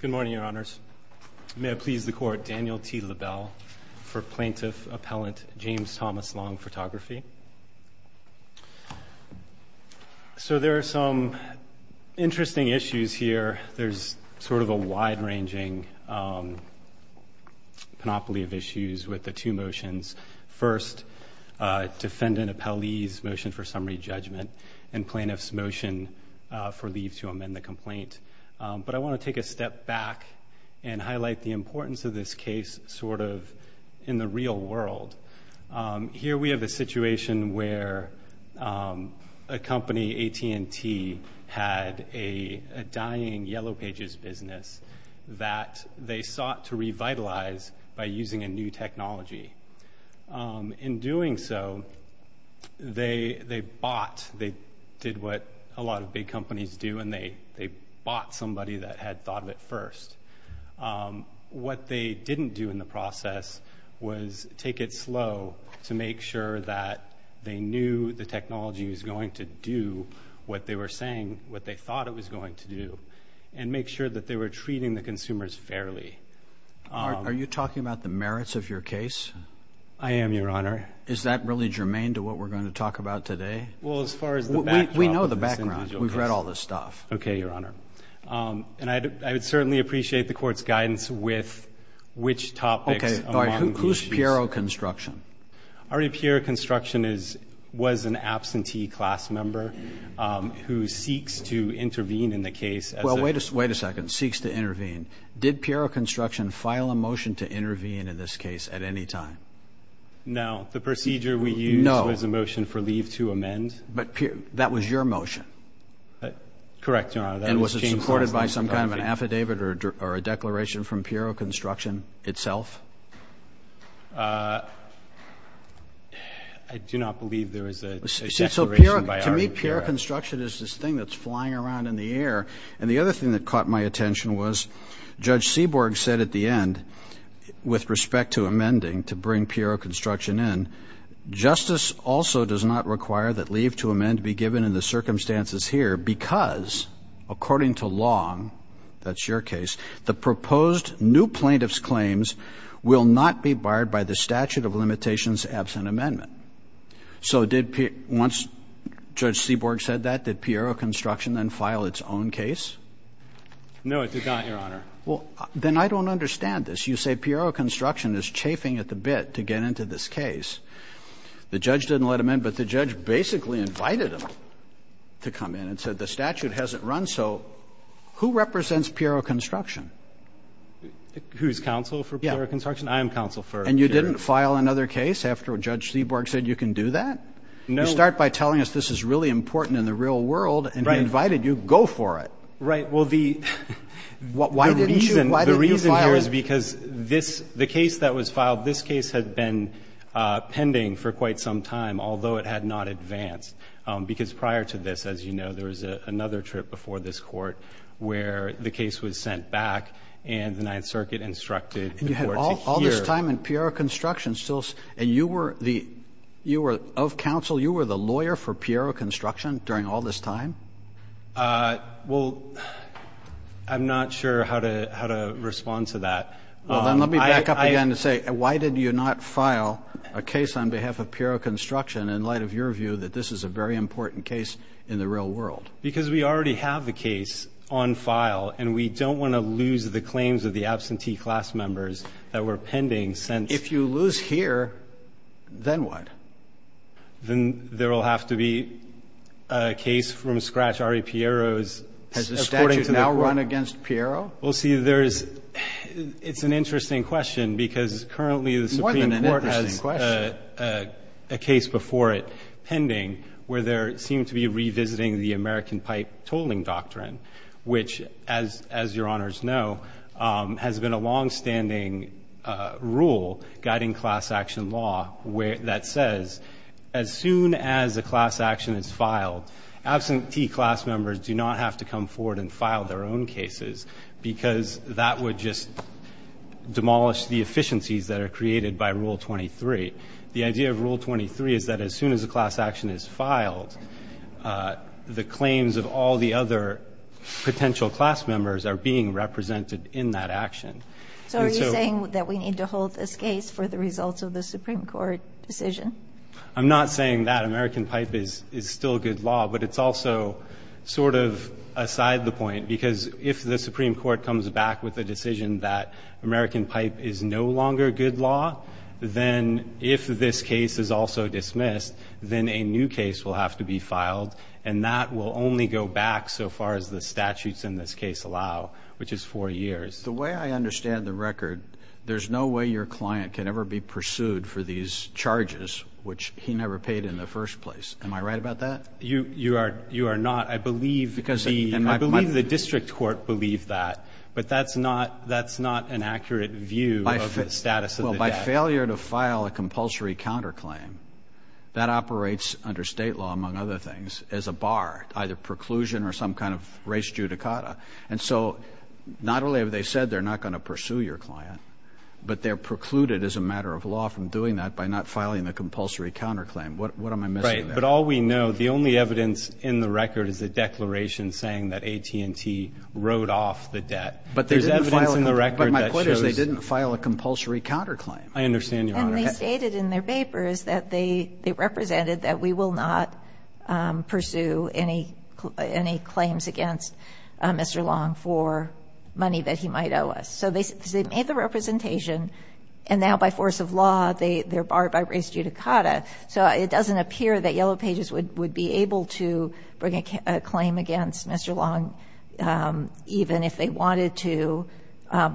Good morning, Your Honors. May I please the Court, Daniel T. LaBelle for Plaintiff-Appellant James Thomas Long Photography. So there are some interesting issues here. There's sort of a wide-ranging panoply of issues with the two motions. First, defendant appellee's motion for summary judgment and plaintiff's motion for leave to amend the complaint. But I want to take a step back and highlight the importance of this case sort of in the real world. Here we have a situation where a company, AT&T, had a dying Yellow Pages business that they sought to revitalize by using a new technology. In doing so, they bought, they did what a lot of big companies do, and they bought somebody that had thought of it first. What they didn't do in the process was take it slow to make sure that they knew the technology was going to do what they were saying, what they thought it was going to do, and make sure that they were treating the consumers fairly. Are you talking about the merits of your case? I am, Your Honor. Is that really germane to what we're going to talk about today? Well, as far as the background of this individual case. We know the background. We've read all this stuff. Okay, Your Honor. And I would certainly appreciate the court's guidance with which topics among these. Okay. All right. Who's Piero Construction? Ari Piero Construction was an absentee class member who seeks to intervene in the case. Well, wait a second. Seeks to intervene. Did Piero Construction file a motion to intervene in this case at any time? No. The procedure we used was a motion for leave to amend. But that was your motion. Correct, Your Honor. And was it supported by some kind of an affidavit or a declaration from Piero Construction itself? I do not believe there was a declaration by Ari Piero. Piero Construction is this thing that's flying around in the air. And the other thing that caught my attention was Judge Seaborg said at the end, with respect to amending, to bring Piero Construction in, justice also does not require that leave to amend be given in the circumstances here because, according to Long, that's your case, the proposed new plaintiff's claims will not be barred by the statute of limitations absent amendment. So once Judge Seaborg said that, did Piero Construction then file its own case? No, it did not, Your Honor. Well, then I don't understand this. You say Piero Construction is chafing at the bit to get into this case. The judge didn't let him in, but the judge basically invited him to come in and said the statute hasn't run. So who represents Piero Construction? I am counsel for Piero Construction. And you didn't file another case after Judge Seaborg said you can do that? No. You start by telling us this is really important in the real world and he invited you. Go for it. Right. Well, the reason here is because the case that was filed, this case had been pending for quite some time, although it had not advanced because prior to this, as you know, there was another trip before this court where the case was sent back and the Ninth Circuit instructed the court to hear. So all this time in Piero Construction, and you were of counsel, you were the lawyer for Piero Construction during all this time? Well, I'm not sure how to respond to that. Well, then let me back up again and say, why did you not file a case on behalf of Piero Construction in light of your view that this is a very important case in the real world? Because we already have the case on file and we don't want to lose the claims of the absentee class members that were pending since. If you lose here, then what? Then there will have to be a case from scratch. Ari Piero is supporting to the court. Has the statute now run against Piero? Well, see, there is – it's an interesting question because currently the Supreme Court has a case before it pending where there seemed to be revisiting the American Pipe Tolling Doctrine, which, as your Honors know, has been a longstanding rule guiding class action law that says as soon as a class action is filed, absentee class members do not have to come forward and file their own cases because that would just demolish the efficiencies that are created by Rule 23. The idea of Rule 23 is that as soon as a class action is filed, the claims of all the other potential class members are being represented in that action. So are you saying that we need to hold this case for the results of the Supreme Court decision? I'm not saying that American Pipe is still good law, but it's also sort of aside the point because if the Supreme Court comes back with a decision that if this case is also dismissed, then a new case will have to be filed, and that will only go back so far as the statutes in this case allow, which is four years. The way I understand the record, there's no way your client can ever be pursued for these charges, which he never paid in the first place. Am I right about that? You are not. I believe the district court believed that, but that's not an accurate view of the status of the debt. Well, by failure to file a compulsory counterclaim, that operates under state law, among other things, as a bar, either preclusion or some kind of res judicata. And so not only have they said they're not going to pursue your client, but they're precluded as a matter of law from doing that by not filing the compulsory counterclaim. What am I missing there? Right, but all we know, the only evidence in the record is a declaration saying that AT&T wrote off the debt. But there's evidence in the record that shows – I understand, Your Honor. And they stated in their papers that they represented that we will not pursue any claims against Mr. Long for money that he might owe us. So they made the representation, and now by force of law, they're barred by res judicata. So it doesn't appear that Yellow Pages would be able to bring a claim against Mr. Long, even if they wanted to,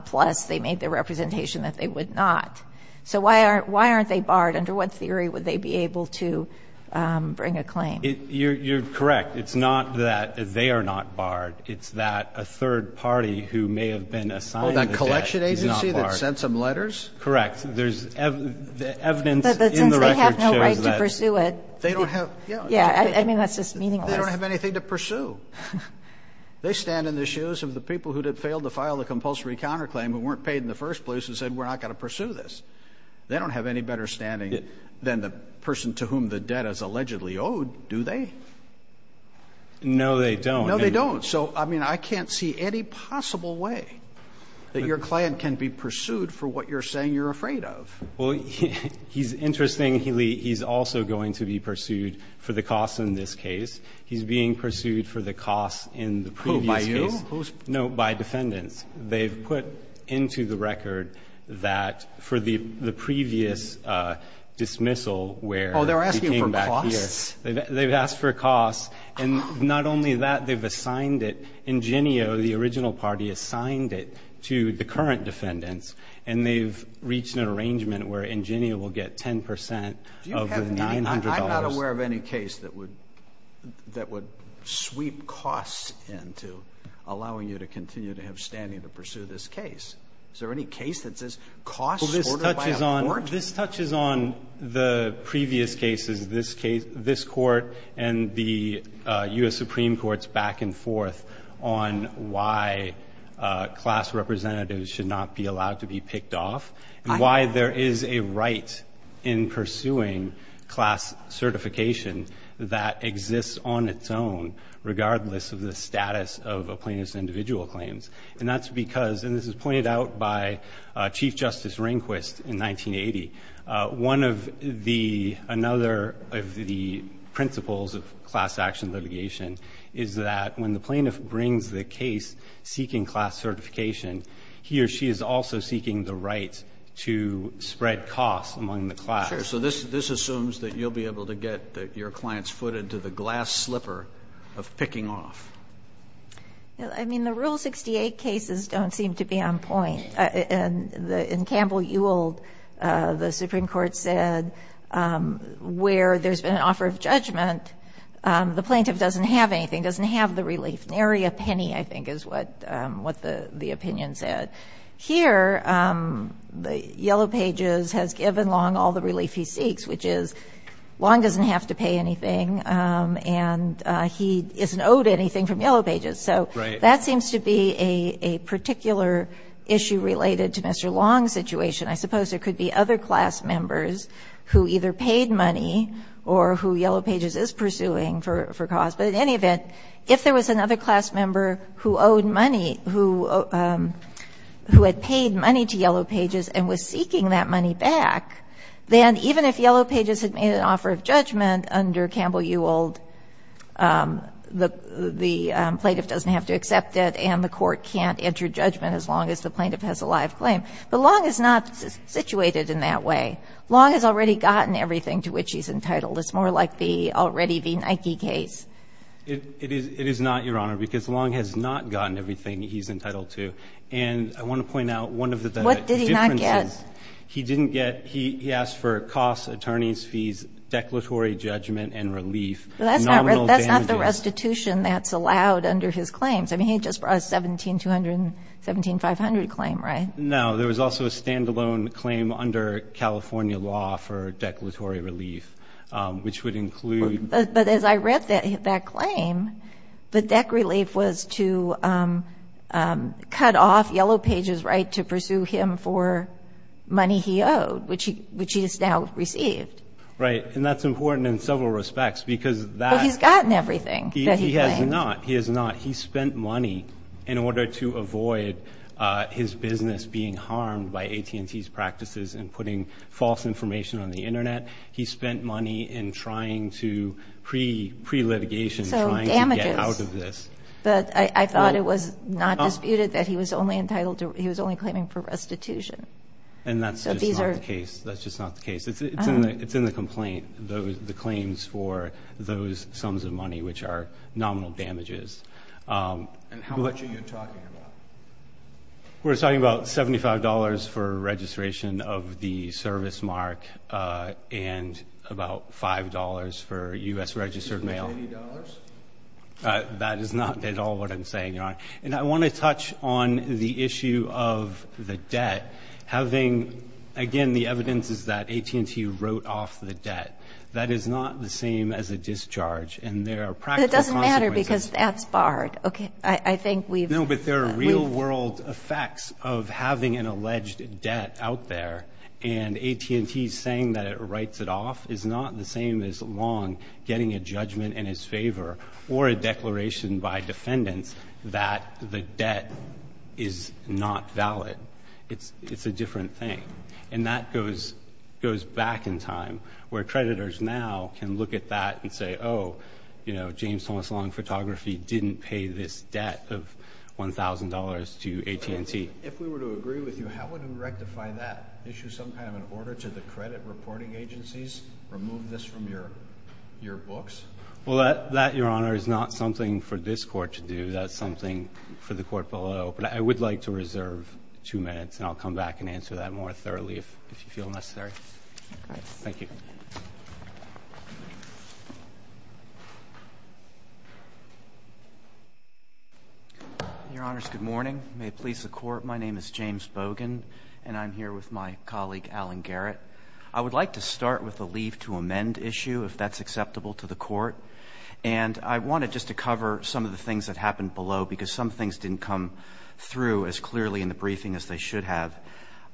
plus they made the representation that they would not. So why aren't they barred? Under what theory would they be able to bring a claim? You're correct. It's not that they are not barred. It's that a third party who may have been assigned the debt is not barred. Well, that collection agency that sent some letters? Correct. There's evidence in the record that shows that. But since they have no right to pursue it, they don't have – yeah. I mean, that's just meaningless. They don't have anything to pursue. They stand in the shoes of the people who failed to file the compulsory counterclaim who weren't paid in the first place and said we're not going to pursue this. They don't have any better standing than the person to whom the debt is allegedly owed, do they? No, they don't. No, they don't. So, I mean, I can't see any possible way that your client can be pursued for what you're saying you're afraid of. Well, he's interesting. He's also going to be pursued for the costs in this case. He's being pursued for the costs in the previous case. Who, by you? No, by defendants. They've put into the record that for the previous dismissal where he came back here. Oh, they're asking for costs? They've asked for costs. And not only that, they've assigned it. Ingenio, the original party, assigned it to the current defendants. And they've reached an arrangement where Ingenio will get 10 percent of the $900. I'm not aware of any case that would sweep costs into allowing you to continue to have standing to pursue this case. Is there any case that says costs ordered by a court? This touches on the previous cases, this court and the U.S. Supreme Court's back and forth on why class representatives should not be allowed to be picked off and why there is a right in pursuing class certification that exists on its own regardless of the status of a plaintiff's individual claims. And that's because, and this is pointed out by Chief Justice Rehnquist in 1980, one of the principles of class action litigation is that when the plaintiff brings the case seeking class certification, he or she is also seeking the right to spread costs among the class. Sure. So this assumes that you'll be able to get your client's foot into the glass slipper of picking off. I mean, the Rule 68 cases don't seem to be on point. In Campbell-Ewell, the Supreme Court said where there's been an offer of judgment, the plaintiff doesn't have anything, doesn't have the relief. Nary a penny, I think, is what the opinion said. Here, Yellow Pages has given Long all the relief he seeks, which is Long doesn't have to pay anything, and he isn't owed anything from Yellow Pages. Right. So that seems to be a particular issue related to Mr. Long's situation. I suppose there could be other class members who either paid money or who Yellow Pages is pursuing for costs. But in any event, if there was another class member who owed money, who had paid money to Yellow Pages and was seeking that money back, then even if Yellow Pages had made an offer of judgment under Campbell-Ewell, the plaintiff doesn't have to accept it, and the court can't enter judgment as long as the plaintiff has a live claim. But Long is not situated in that way. Long has already gotten everything to which he's entitled. It's more like the already v. Nike case. It is not, Your Honor, because Long has not gotten everything he's entitled to. And I want to point out one of the differences. What did he not get? He didn't get he asked for costs, attorney's fees, declaratory judgment and relief. That's not the restitution that's allowed under his claims. I mean, he just brought a $1,700 claim, right? No. There was also a standalone claim under California law for declaratory relief, which would include. But as I read that claim, the dec relief was to cut off Yellow Pages' right to pursue him for money he owed, which he has now received. Right. And that's important in several respects because that. Well, he's gotten everything that he claims. He has not. He has not. He spent money in order to avoid his business being harmed by AT&T's practices and putting false information on the Internet. He spent money in trying to pre-litigation. So damages. Trying to get out of this. But I thought it was not disputed that he was only entitled to. He was only claiming for restitution. And that's just not the case. That's just not the case. It's in the complaint. The claims for those sums of money, which are nominal damages. And how much are you talking about? We're talking about $75 for registration of the service mark and about $5 for U.S. registered mail. Isn't that $80? That is not at all what I'm saying, Your Honor. And I want to touch on the issue of the debt. Again, the evidence is that AT&T wrote off the debt. That is not the same as a discharge. It doesn't matter because that's barred. No, but there are real-world effects of having an alleged debt out there. And AT&T saying that it writes it off is not the same as Long getting a judgment in his favor or a declaration by defendants that the debt is not valid. It's a different thing. And that goes back in time where creditors now can look at that and say, oh, you know, James Thomas Long Photography didn't pay this debt of $1,000 to AT&T. If we were to agree with you, how would we rectify that? Issue some kind of an order to the credit reporting agencies? Remove this from your books? Well, that, Your Honor, is not something for this Court to do. That's something for the Court below. But I would like to reserve two minutes, and I'll come back and answer that more thoroughly if you feel necessary. Thank you. Your Honors, good morning. May it please the Court, my name is James Bogan, and I'm here with my colleague, Alan Garrett. I would like to start with the leave to amend issue, if that's acceptable to the Court. And I wanted just to cover some of the things that happened below because some things didn't come through as clearly in the briefing as they should have.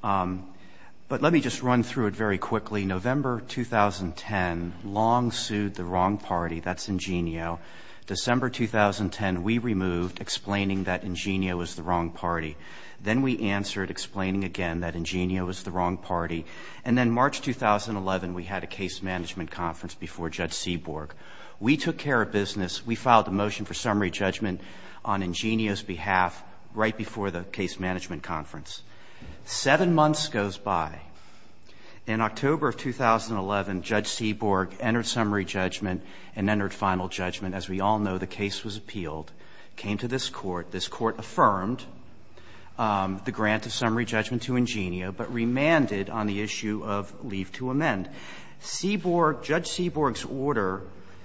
But let me just run through it very quickly. November 2010, Long sued the wrong party. That's Ingenio. December 2010, we removed, explaining that Ingenio was the wrong party. Then we answered, explaining again that Ingenio was the wrong party. And then March 2011, we had a case management conference before Judge Seaborg. We took care of business. We filed a motion for summary judgment on Ingenio's behalf right before the case management conference. Seven months goes by. In October of 2011, Judge Seaborg entered summary judgment and entered final judgment. As we all know, the case was appealed, came to this Court. This Court affirmed the grant of summary judgment to Ingenio, but remanded on the issue of leave to amend. And Seaborg — Judge Seaborg's order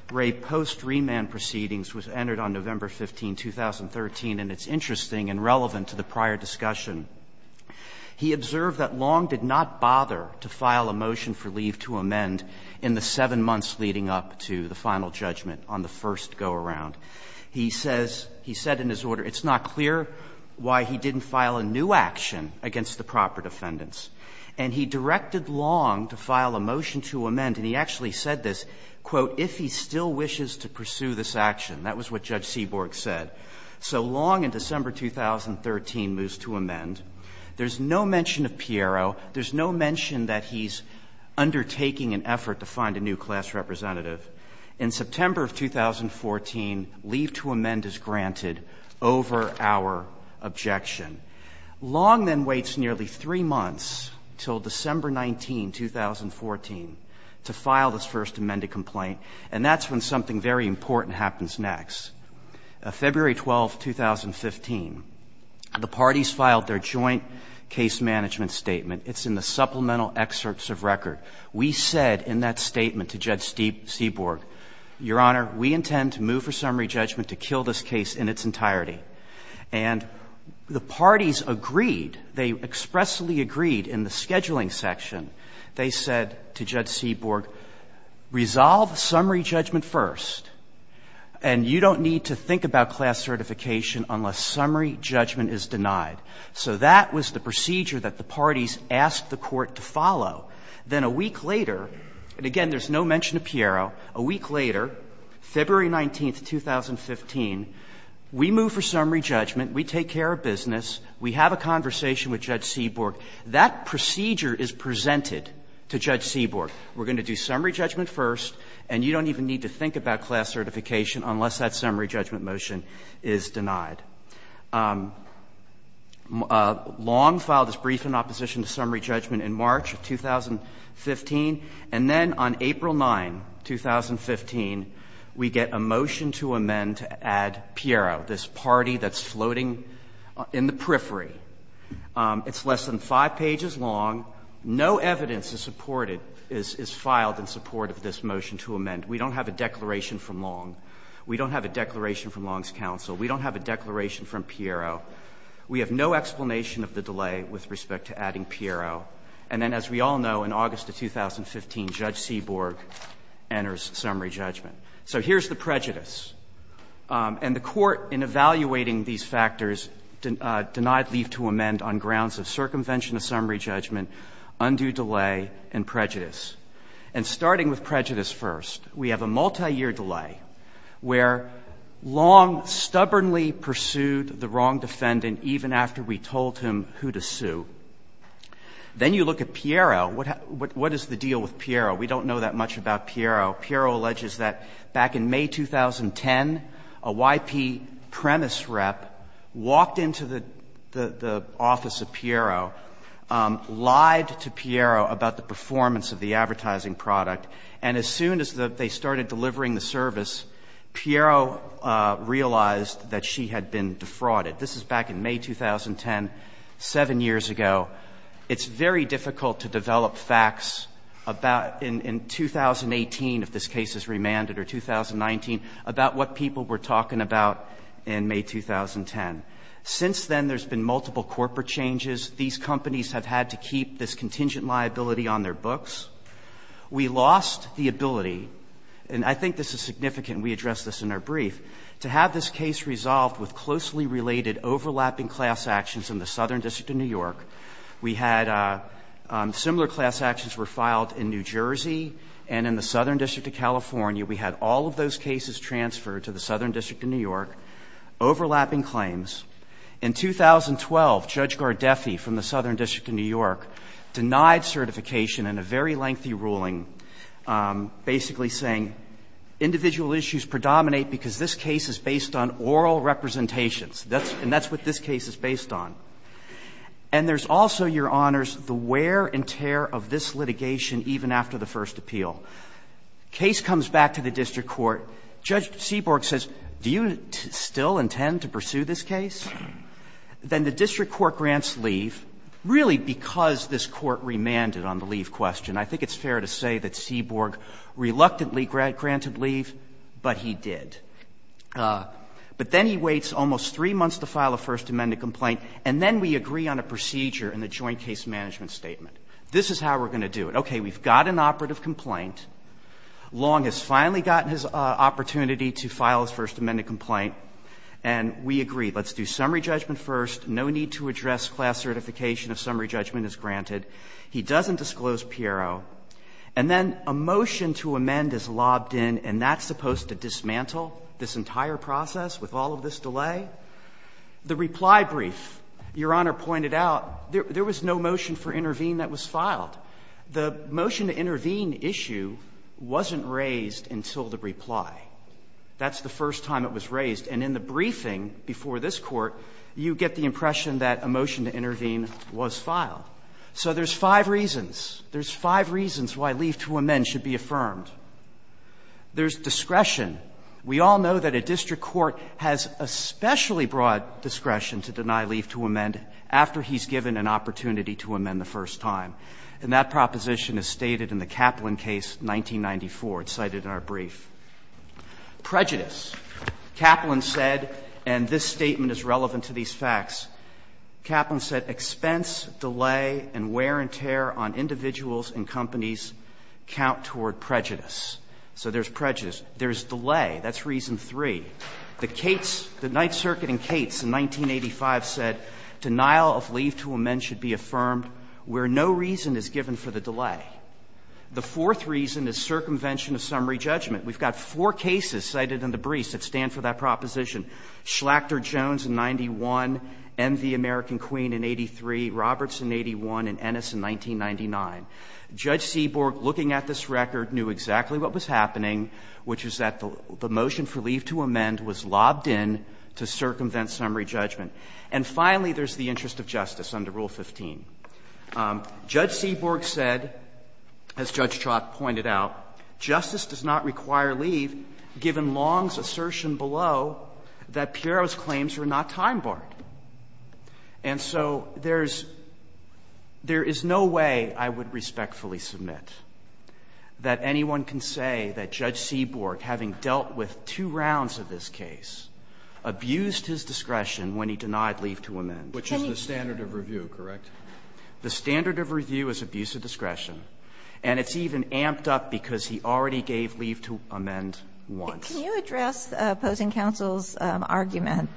for a post-remand proceedings was entered on November 15, 2013, and it's interesting and relevant to the prior discussion. He observed that Long did not bother to file a motion for leave to amend in the seven months leading up to the final judgment on the first go-around. He says — he said in his order, it's not clear why he didn't file a new action against the proper defendants. And he directed Long to file a motion to amend, and he actually said this, quote, if he still wishes to pursue this action. That was what Judge Seaborg said. So Long, in December 2013, moves to amend. There's no mention of Piero. There's no mention that he's undertaking an effort to find a new class representative. In September of 2014, leave to amend is granted over our objection. Long then waits nearly three months until December 19, 2014, to file this first amended complaint, and that's when something very important happens next. February 12, 2015, the parties filed their joint case management statement. It's in the supplemental excerpts of record. We said in that statement to Judge Seaborg, Your Honor, we intend to move for summary judgment to kill this case in its entirety. And the parties agreed. They expressly agreed in the scheduling section. They said to Judge Seaborg, resolve summary judgment first, and you don't need to think about class certification unless summary judgment is denied. So that was the procedure that the parties asked the Court to follow. Then a week later, and again, there's no mention of Piero, a week later, February 19, 2015, we move for summary judgment. We take care of business. We have a conversation with Judge Seaborg. That procedure is presented to Judge Seaborg. We're going to do summary judgment first, and you don't even need to think about class certification unless that summary judgment motion is denied. Long filed his brief in opposition to summary judgment in March of 2015. And then on April 9, 2015, we get a motion to amend to add Piero, this party that's floating in the periphery. It's less than five pages long. No evidence is supported, is filed in support of this motion to amend. We don't have a declaration from Long. We don't have a declaration from Long's counsel. We don't have a declaration from Piero. We have no explanation of the delay with respect to adding Piero. And then, as we all know, in August of 2015, Judge Seaborg enters summary judgment. So here's the prejudice. And the Court, in evaluating these factors, denied leave to amend on grounds of circumvention of summary judgment, undue delay, and prejudice. And starting with prejudice first, we have a multiyear delay where Long stubbornly pursued the wrong defendant even after we told him who to sue. Then you look at Piero. What is the deal with Piero? We don't know that much about Piero. Piero alleges that back in May 2010, a YP premise rep walked into the office of Piero, lied to Piero about the performance of the advertising product. And as soon as they started delivering the service, Piero realized that she had been defrauded. This is back in May 2010, seven years ago. It's very difficult to develop facts about in 2018, if this case is remanded, or 2019, about what people were talking about in May 2010. Since then, there's been multiple corporate changes. These companies have had to keep this contingent liability on their books. We lost the ability, and I think this is significant, we addressed this in our brief, to have this case resolved with closely related overlapping class actions in the Southern District of New York. We had similar class actions were filed in New Jersey and in the Southern District of California. We had all of those cases transferred to the Southern District of New York, overlapping claims. In 2012, Judge Gardeffi from the Southern District of New York denied certification in a very lengthy ruling, basically saying individual issues predominate because this case is based on oral representations, and that's what this case is based on. And there's also, Your Honors, the wear and tear of this litigation, even after the first appeal. Case comes back to the district court. Judge Seaborg says, do you still intend to pursue this case? Then the district court grants leave, really because this court remanded on the leave question. I think it's fair to say that Seaborg reluctantly granted leave, but he did. But then he waits almost 3 months to file a First Amendment complaint, and then we agree on a procedure in the Joint Case Management Statement. This is how we're going to do it. Okay. We've got an operative complaint. Long has finally gotten his opportunity to file his First Amendment complaint, and we agree. Let's do summary judgment first. No need to address class certification if summary judgment is granted. He doesn't disclose Piero. And then a motion to amend is lobbed in, and that's supposed to dismantle this entire process with all of this delay? The reply brief, Your Honor pointed out, there was no motion for intervene that was filed. The motion to intervene issue wasn't raised until the reply. That's the first time it was raised. And in the briefing before this Court, you get the impression that a motion to intervene was filed. So there's five reasons. There's five reasons why leave to amend should be affirmed. There's discretion. We all know that a district court has especially broad discretion to deny leave to amend after he's given an opportunity to amend the first time. And that proposition is stated in the Kaplan case, 1994. It's cited in our brief. Prejudice. Kaplan said, and this statement is relevant to these facts. Kaplan said, expense, delay, and wear and tear on individuals and companies count toward prejudice. So there's prejudice. There's delay. That's reason three. The Cates, the Ninth Circuit in Cates in 1985 said, Denial of leave to amend should be affirmed where no reason is given for the delay. The fourth reason is circumvention of summary judgment. We've got four cases cited in the briefs that stand for that proposition. Schlachter-Jones in 91, MV American Queen in 83, Roberts in 81, and Ennis in 1999. Judge Seaborg, looking at this record, knew exactly what was happening, which is that the motion for leave to amend was lobbed in to circumvent summary judgment. And finally, there's the interest of justice under Rule 15. Judge Seaborg said, as Judge Chalk pointed out, justice does not require leave to amend, given Long's assertion below that Piero's claims were not time-barred. And so there's no way I would respectfully submit that anyone can say that Judge Seaborg, having dealt with two rounds of this case, abused his discretion when he denied leave to amend. Roberts, which is the standard of review, correct? The standard of review is abuse of discretion, and it's even amped up because he already gave leave to amend once. Can you address the opposing counsel's argument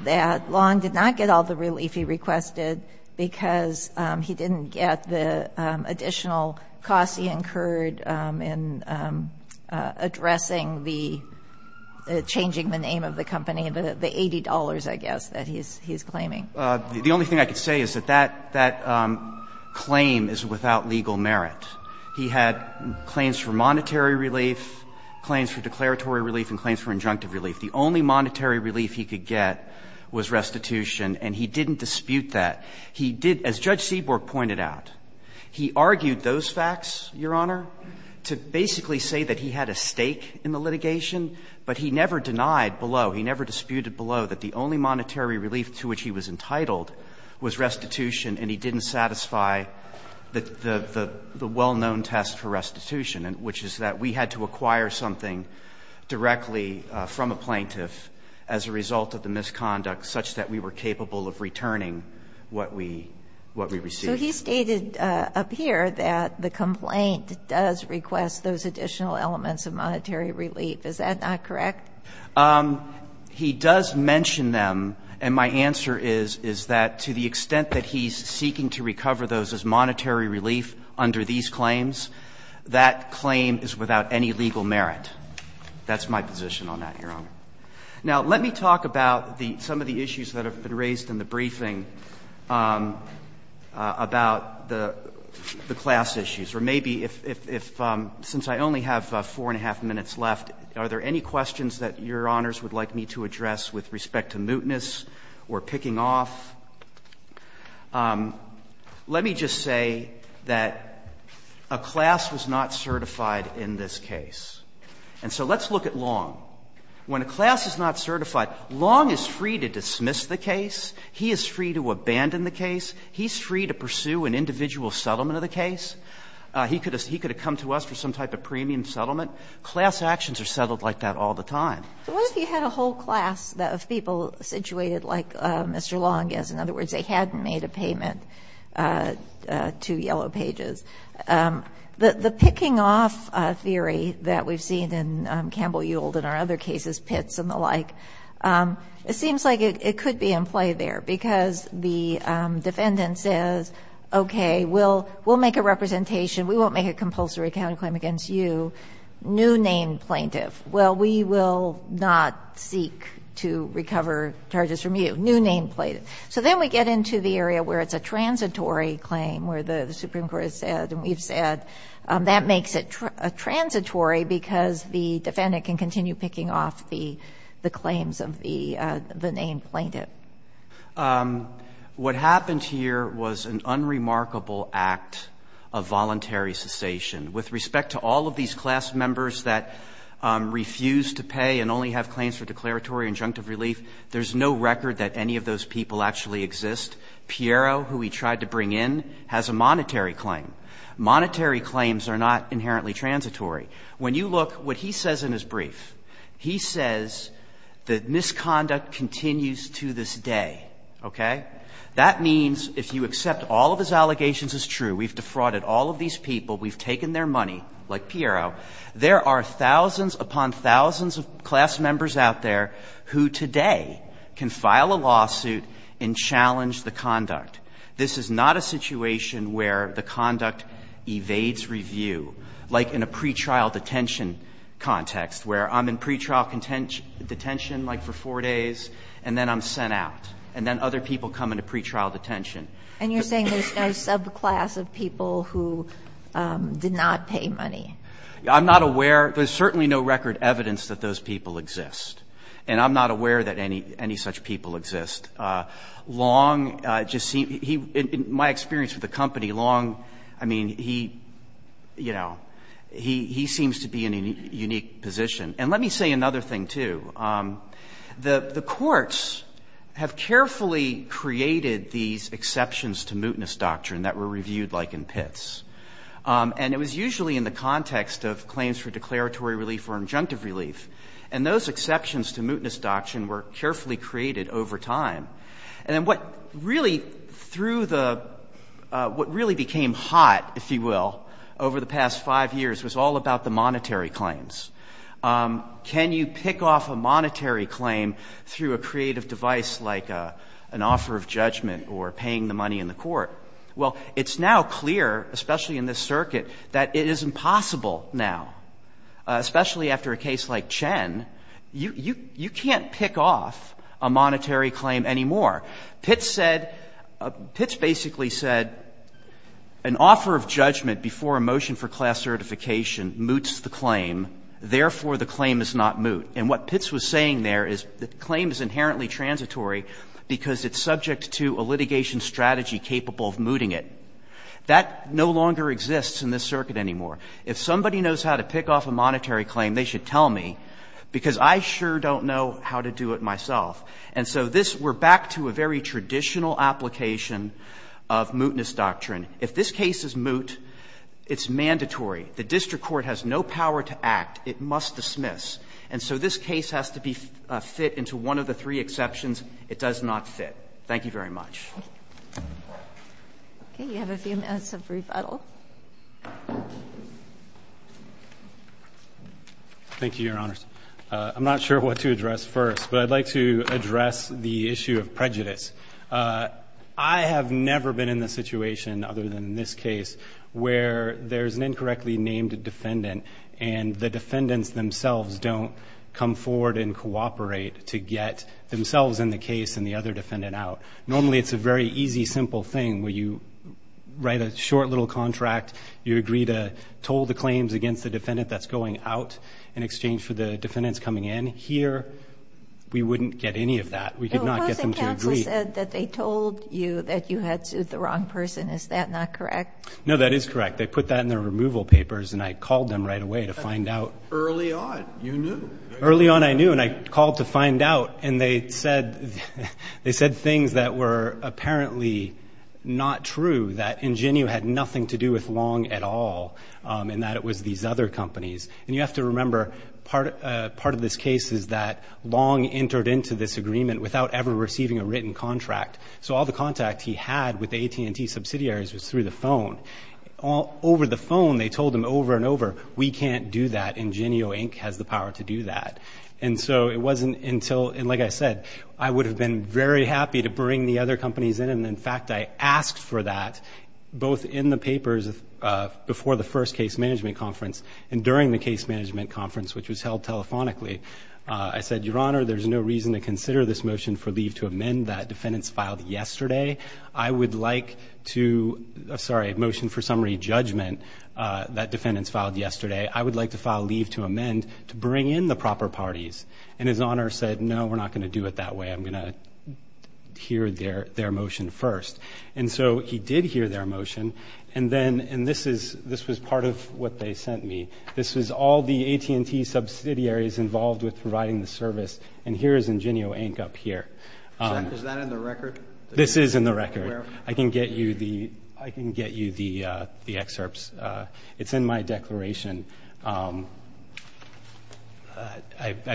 that Long did not get all the relief he requested because he didn't get the additional costs he incurred in addressing the changing the name of the company, the $80, I guess, that he's claiming? The only thing I could say is that that claim is without legal merit. He had claims for monetary relief, claims for declaratory relief, and claims for injunctive relief. The only monetary relief he could get was restitution, and he didn't dispute that. He did, as Judge Seaborg pointed out, he argued those facts, Your Honor, to basically say that he had a stake in the litigation, but he never denied below, he never disputed below, that the only monetary relief to which he was entitled was restitution, and he didn't satisfy the well-known test for restitution, which is that we had to acquire something directly from a plaintiff as a result of the misconduct such that we were capable of returning what we received. So he stated up here that the complaint does request those additional elements of monetary relief. Is that not correct? He does mention them, and my answer is, is that to the extent that he's seeking to recover those as monetary relief under these claims, that claim is without any legal merit. That's my position on that, Your Honor. Now, let me talk about the – some of the issues that have been raised in the briefing about the class issues, or maybe if – since I only have four and a half minutes left, are there any questions that Your Honors would like me to address with respect to mootness or picking off? Let me just say that a class was not certified in this case. And so let's look at Long. When a class is not certified, Long is free to dismiss the case. He is free to abandon the case. He's free to pursue an individual settlement of the case. He could have come to us for some type of premium settlement. Class actions are settled like that all the time. So what if you had a whole class of people situated like Mr. Long is? In other words, they hadn't made a payment to Yellow Pages. The picking off theory that we've seen in Campbell-Yould and our other cases, Pitts and the like, it seems like it could be in play there, because the defendant says, okay, we'll make a representation, we won't make a compulsory counterclaim against you, new name plaintiff. Well, we will not seek to recover charges from you, new name plaintiff. So then we get into the area where it's a transitory claim, where the Supreme Court has said and we've said that makes it transitory, because the defendant can continue picking off the claims of the name plaintiff. What happened here was an unremarkable act of voluntary cessation. With respect to all of these class members that refuse to pay and only have claims for declaratory injunctive relief, there's no record that any of those people actually exist. Piero, who we tried to bring in, has a monetary claim. Monetary claims are not inherently transitory. When you look, what he says in his brief, he says that misconduct continues to this day, okay? That means if you accept all of his allegations as true, we've defrauded all of these people, we've taken their money, like Piero, there are thousands upon thousands of class members out there who today can file a lawsuit and challenge the conduct. This is not a situation where the conduct evades review, like in a pretrial detention context, where I'm in pretrial detention, like for four days, and then I'm sent out. And then other people come into pretrial detention. And you're saying there's no subclass of people who did not pay money? I'm not aware. There's certainly no record evidence that those people exist. And I'm not aware that any such people exist. Long just seems to be, in my experience with the company, Long, I mean, he, you know, he seems to be in a unique position. And let me say another thing, too. The courts have carefully created these exceptions to mootness doctrine that were reviewed like in pits. And it was usually in the context of claims for declaratory relief or injunctive relief. And those exceptions to mootness doctrine were carefully created over time. And then what really, through the, what really became hot, if you will, over the past five years was all about the monetary claims. Can you pick off a monetary claim through a creative device like an offer of judgment or paying the money in the court? Well, it's now clear, especially in this circuit, that it is impossible now, especially after a case like Chen. You can't pick off a monetary claim anymore. Pits said, Pits basically said an offer of judgment before a motion for class certification moots the claim. Therefore, the claim is not moot. And what Pits was saying there is the claim is inherently transitory because it's subject to a litigation strategy capable of mooting it. That no longer exists in this circuit anymore. If somebody knows how to pick off a monetary claim, they should tell me because I sure don't know how to do it myself. And so this, we're back to a very traditional application of mootness doctrine. If this case is moot, it's mandatory. The district court has no power to act. It must dismiss. And so this case has to be fit into one of the three exceptions. It does not fit. Thank you very much. Okay. You have a few minutes of rebuttal. Thank you, Your Honors. I'm not sure what to address first, but I'd like to address the issue of prejudice. I have never been in the situation other than in this case where there's an incorrectly named defendant and the defendants themselves don't come forward and cooperate to get themselves in the case and the other defendant out. Normally, it's a very easy, simple thing where you write a short little contract. You agree to toll the claims against the defendant that's going out in exchange for the defendants coming in. Here, we wouldn't get any of that. We could not get them to agree. The opposing counsel said that they told you that you had sued the wrong person. Is that not correct? No, that is correct. They put that in their removal papers, and I called them right away to find out. Early on, you knew. Early on, I knew, and I called to find out. And they said things that were apparently not true, that ingenue had nothing to do with Long at all, and that it was these other companies. And you have to remember, part of this case is that Long entered into this agreement without ever receiving a written contract. So all the contact he had with the AT&T subsidiaries was through the phone. Over the phone, they told him over and over, we can't do that, Ingenio Inc. has the power to do that. And so it wasn't until, and like I said, I would have been very happy to bring the other companies in, and in fact, I asked for that both in the papers before the first case management conference and during the case management conference, which was held telephonically. I said, Your Honor, there's no reason to consider this motion for leave to amend that defendants filed yesterday. I would like to, sorry, motion for summary judgment that defendants filed yesterday, I would like to file leave to amend to bring in the proper parties. And His Honor said, no, we're not going to do it that way. I'm going to hear their motion first. And so he did hear their motion, and then, and this was part of what they sent me. This was all the AT&T subsidiaries involved with providing the service. And here is Ingenio Inc. up here. Is that in the record? This is in the record. I can get you the excerpts. It's in my declaration. I'd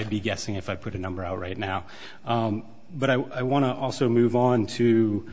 be guessing if I put a number out right now. But I want to also move on to-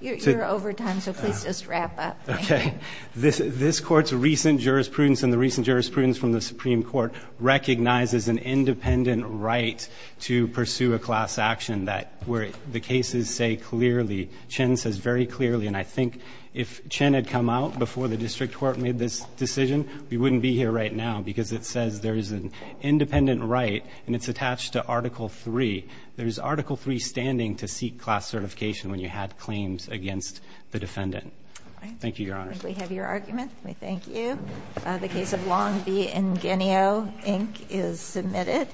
You're over time, so please just wrap up. Okay. This Court's recent jurisprudence and the recent jurisprudence from the Supreme Court recognizes an independent right to pursue a class action that where the cases say clearly, Chen says very clearly, and I think if Chen had come out before the district court made this decision, we wouldn't be here right now because it says there is an independent right, and it's attached to Article III. There's Article III standing to seek class certification when you had claims against the defendant. Thank you, Your Honor. I think we have your argument. We thank you. The case of Longby and Ingenio Inc. is submitted.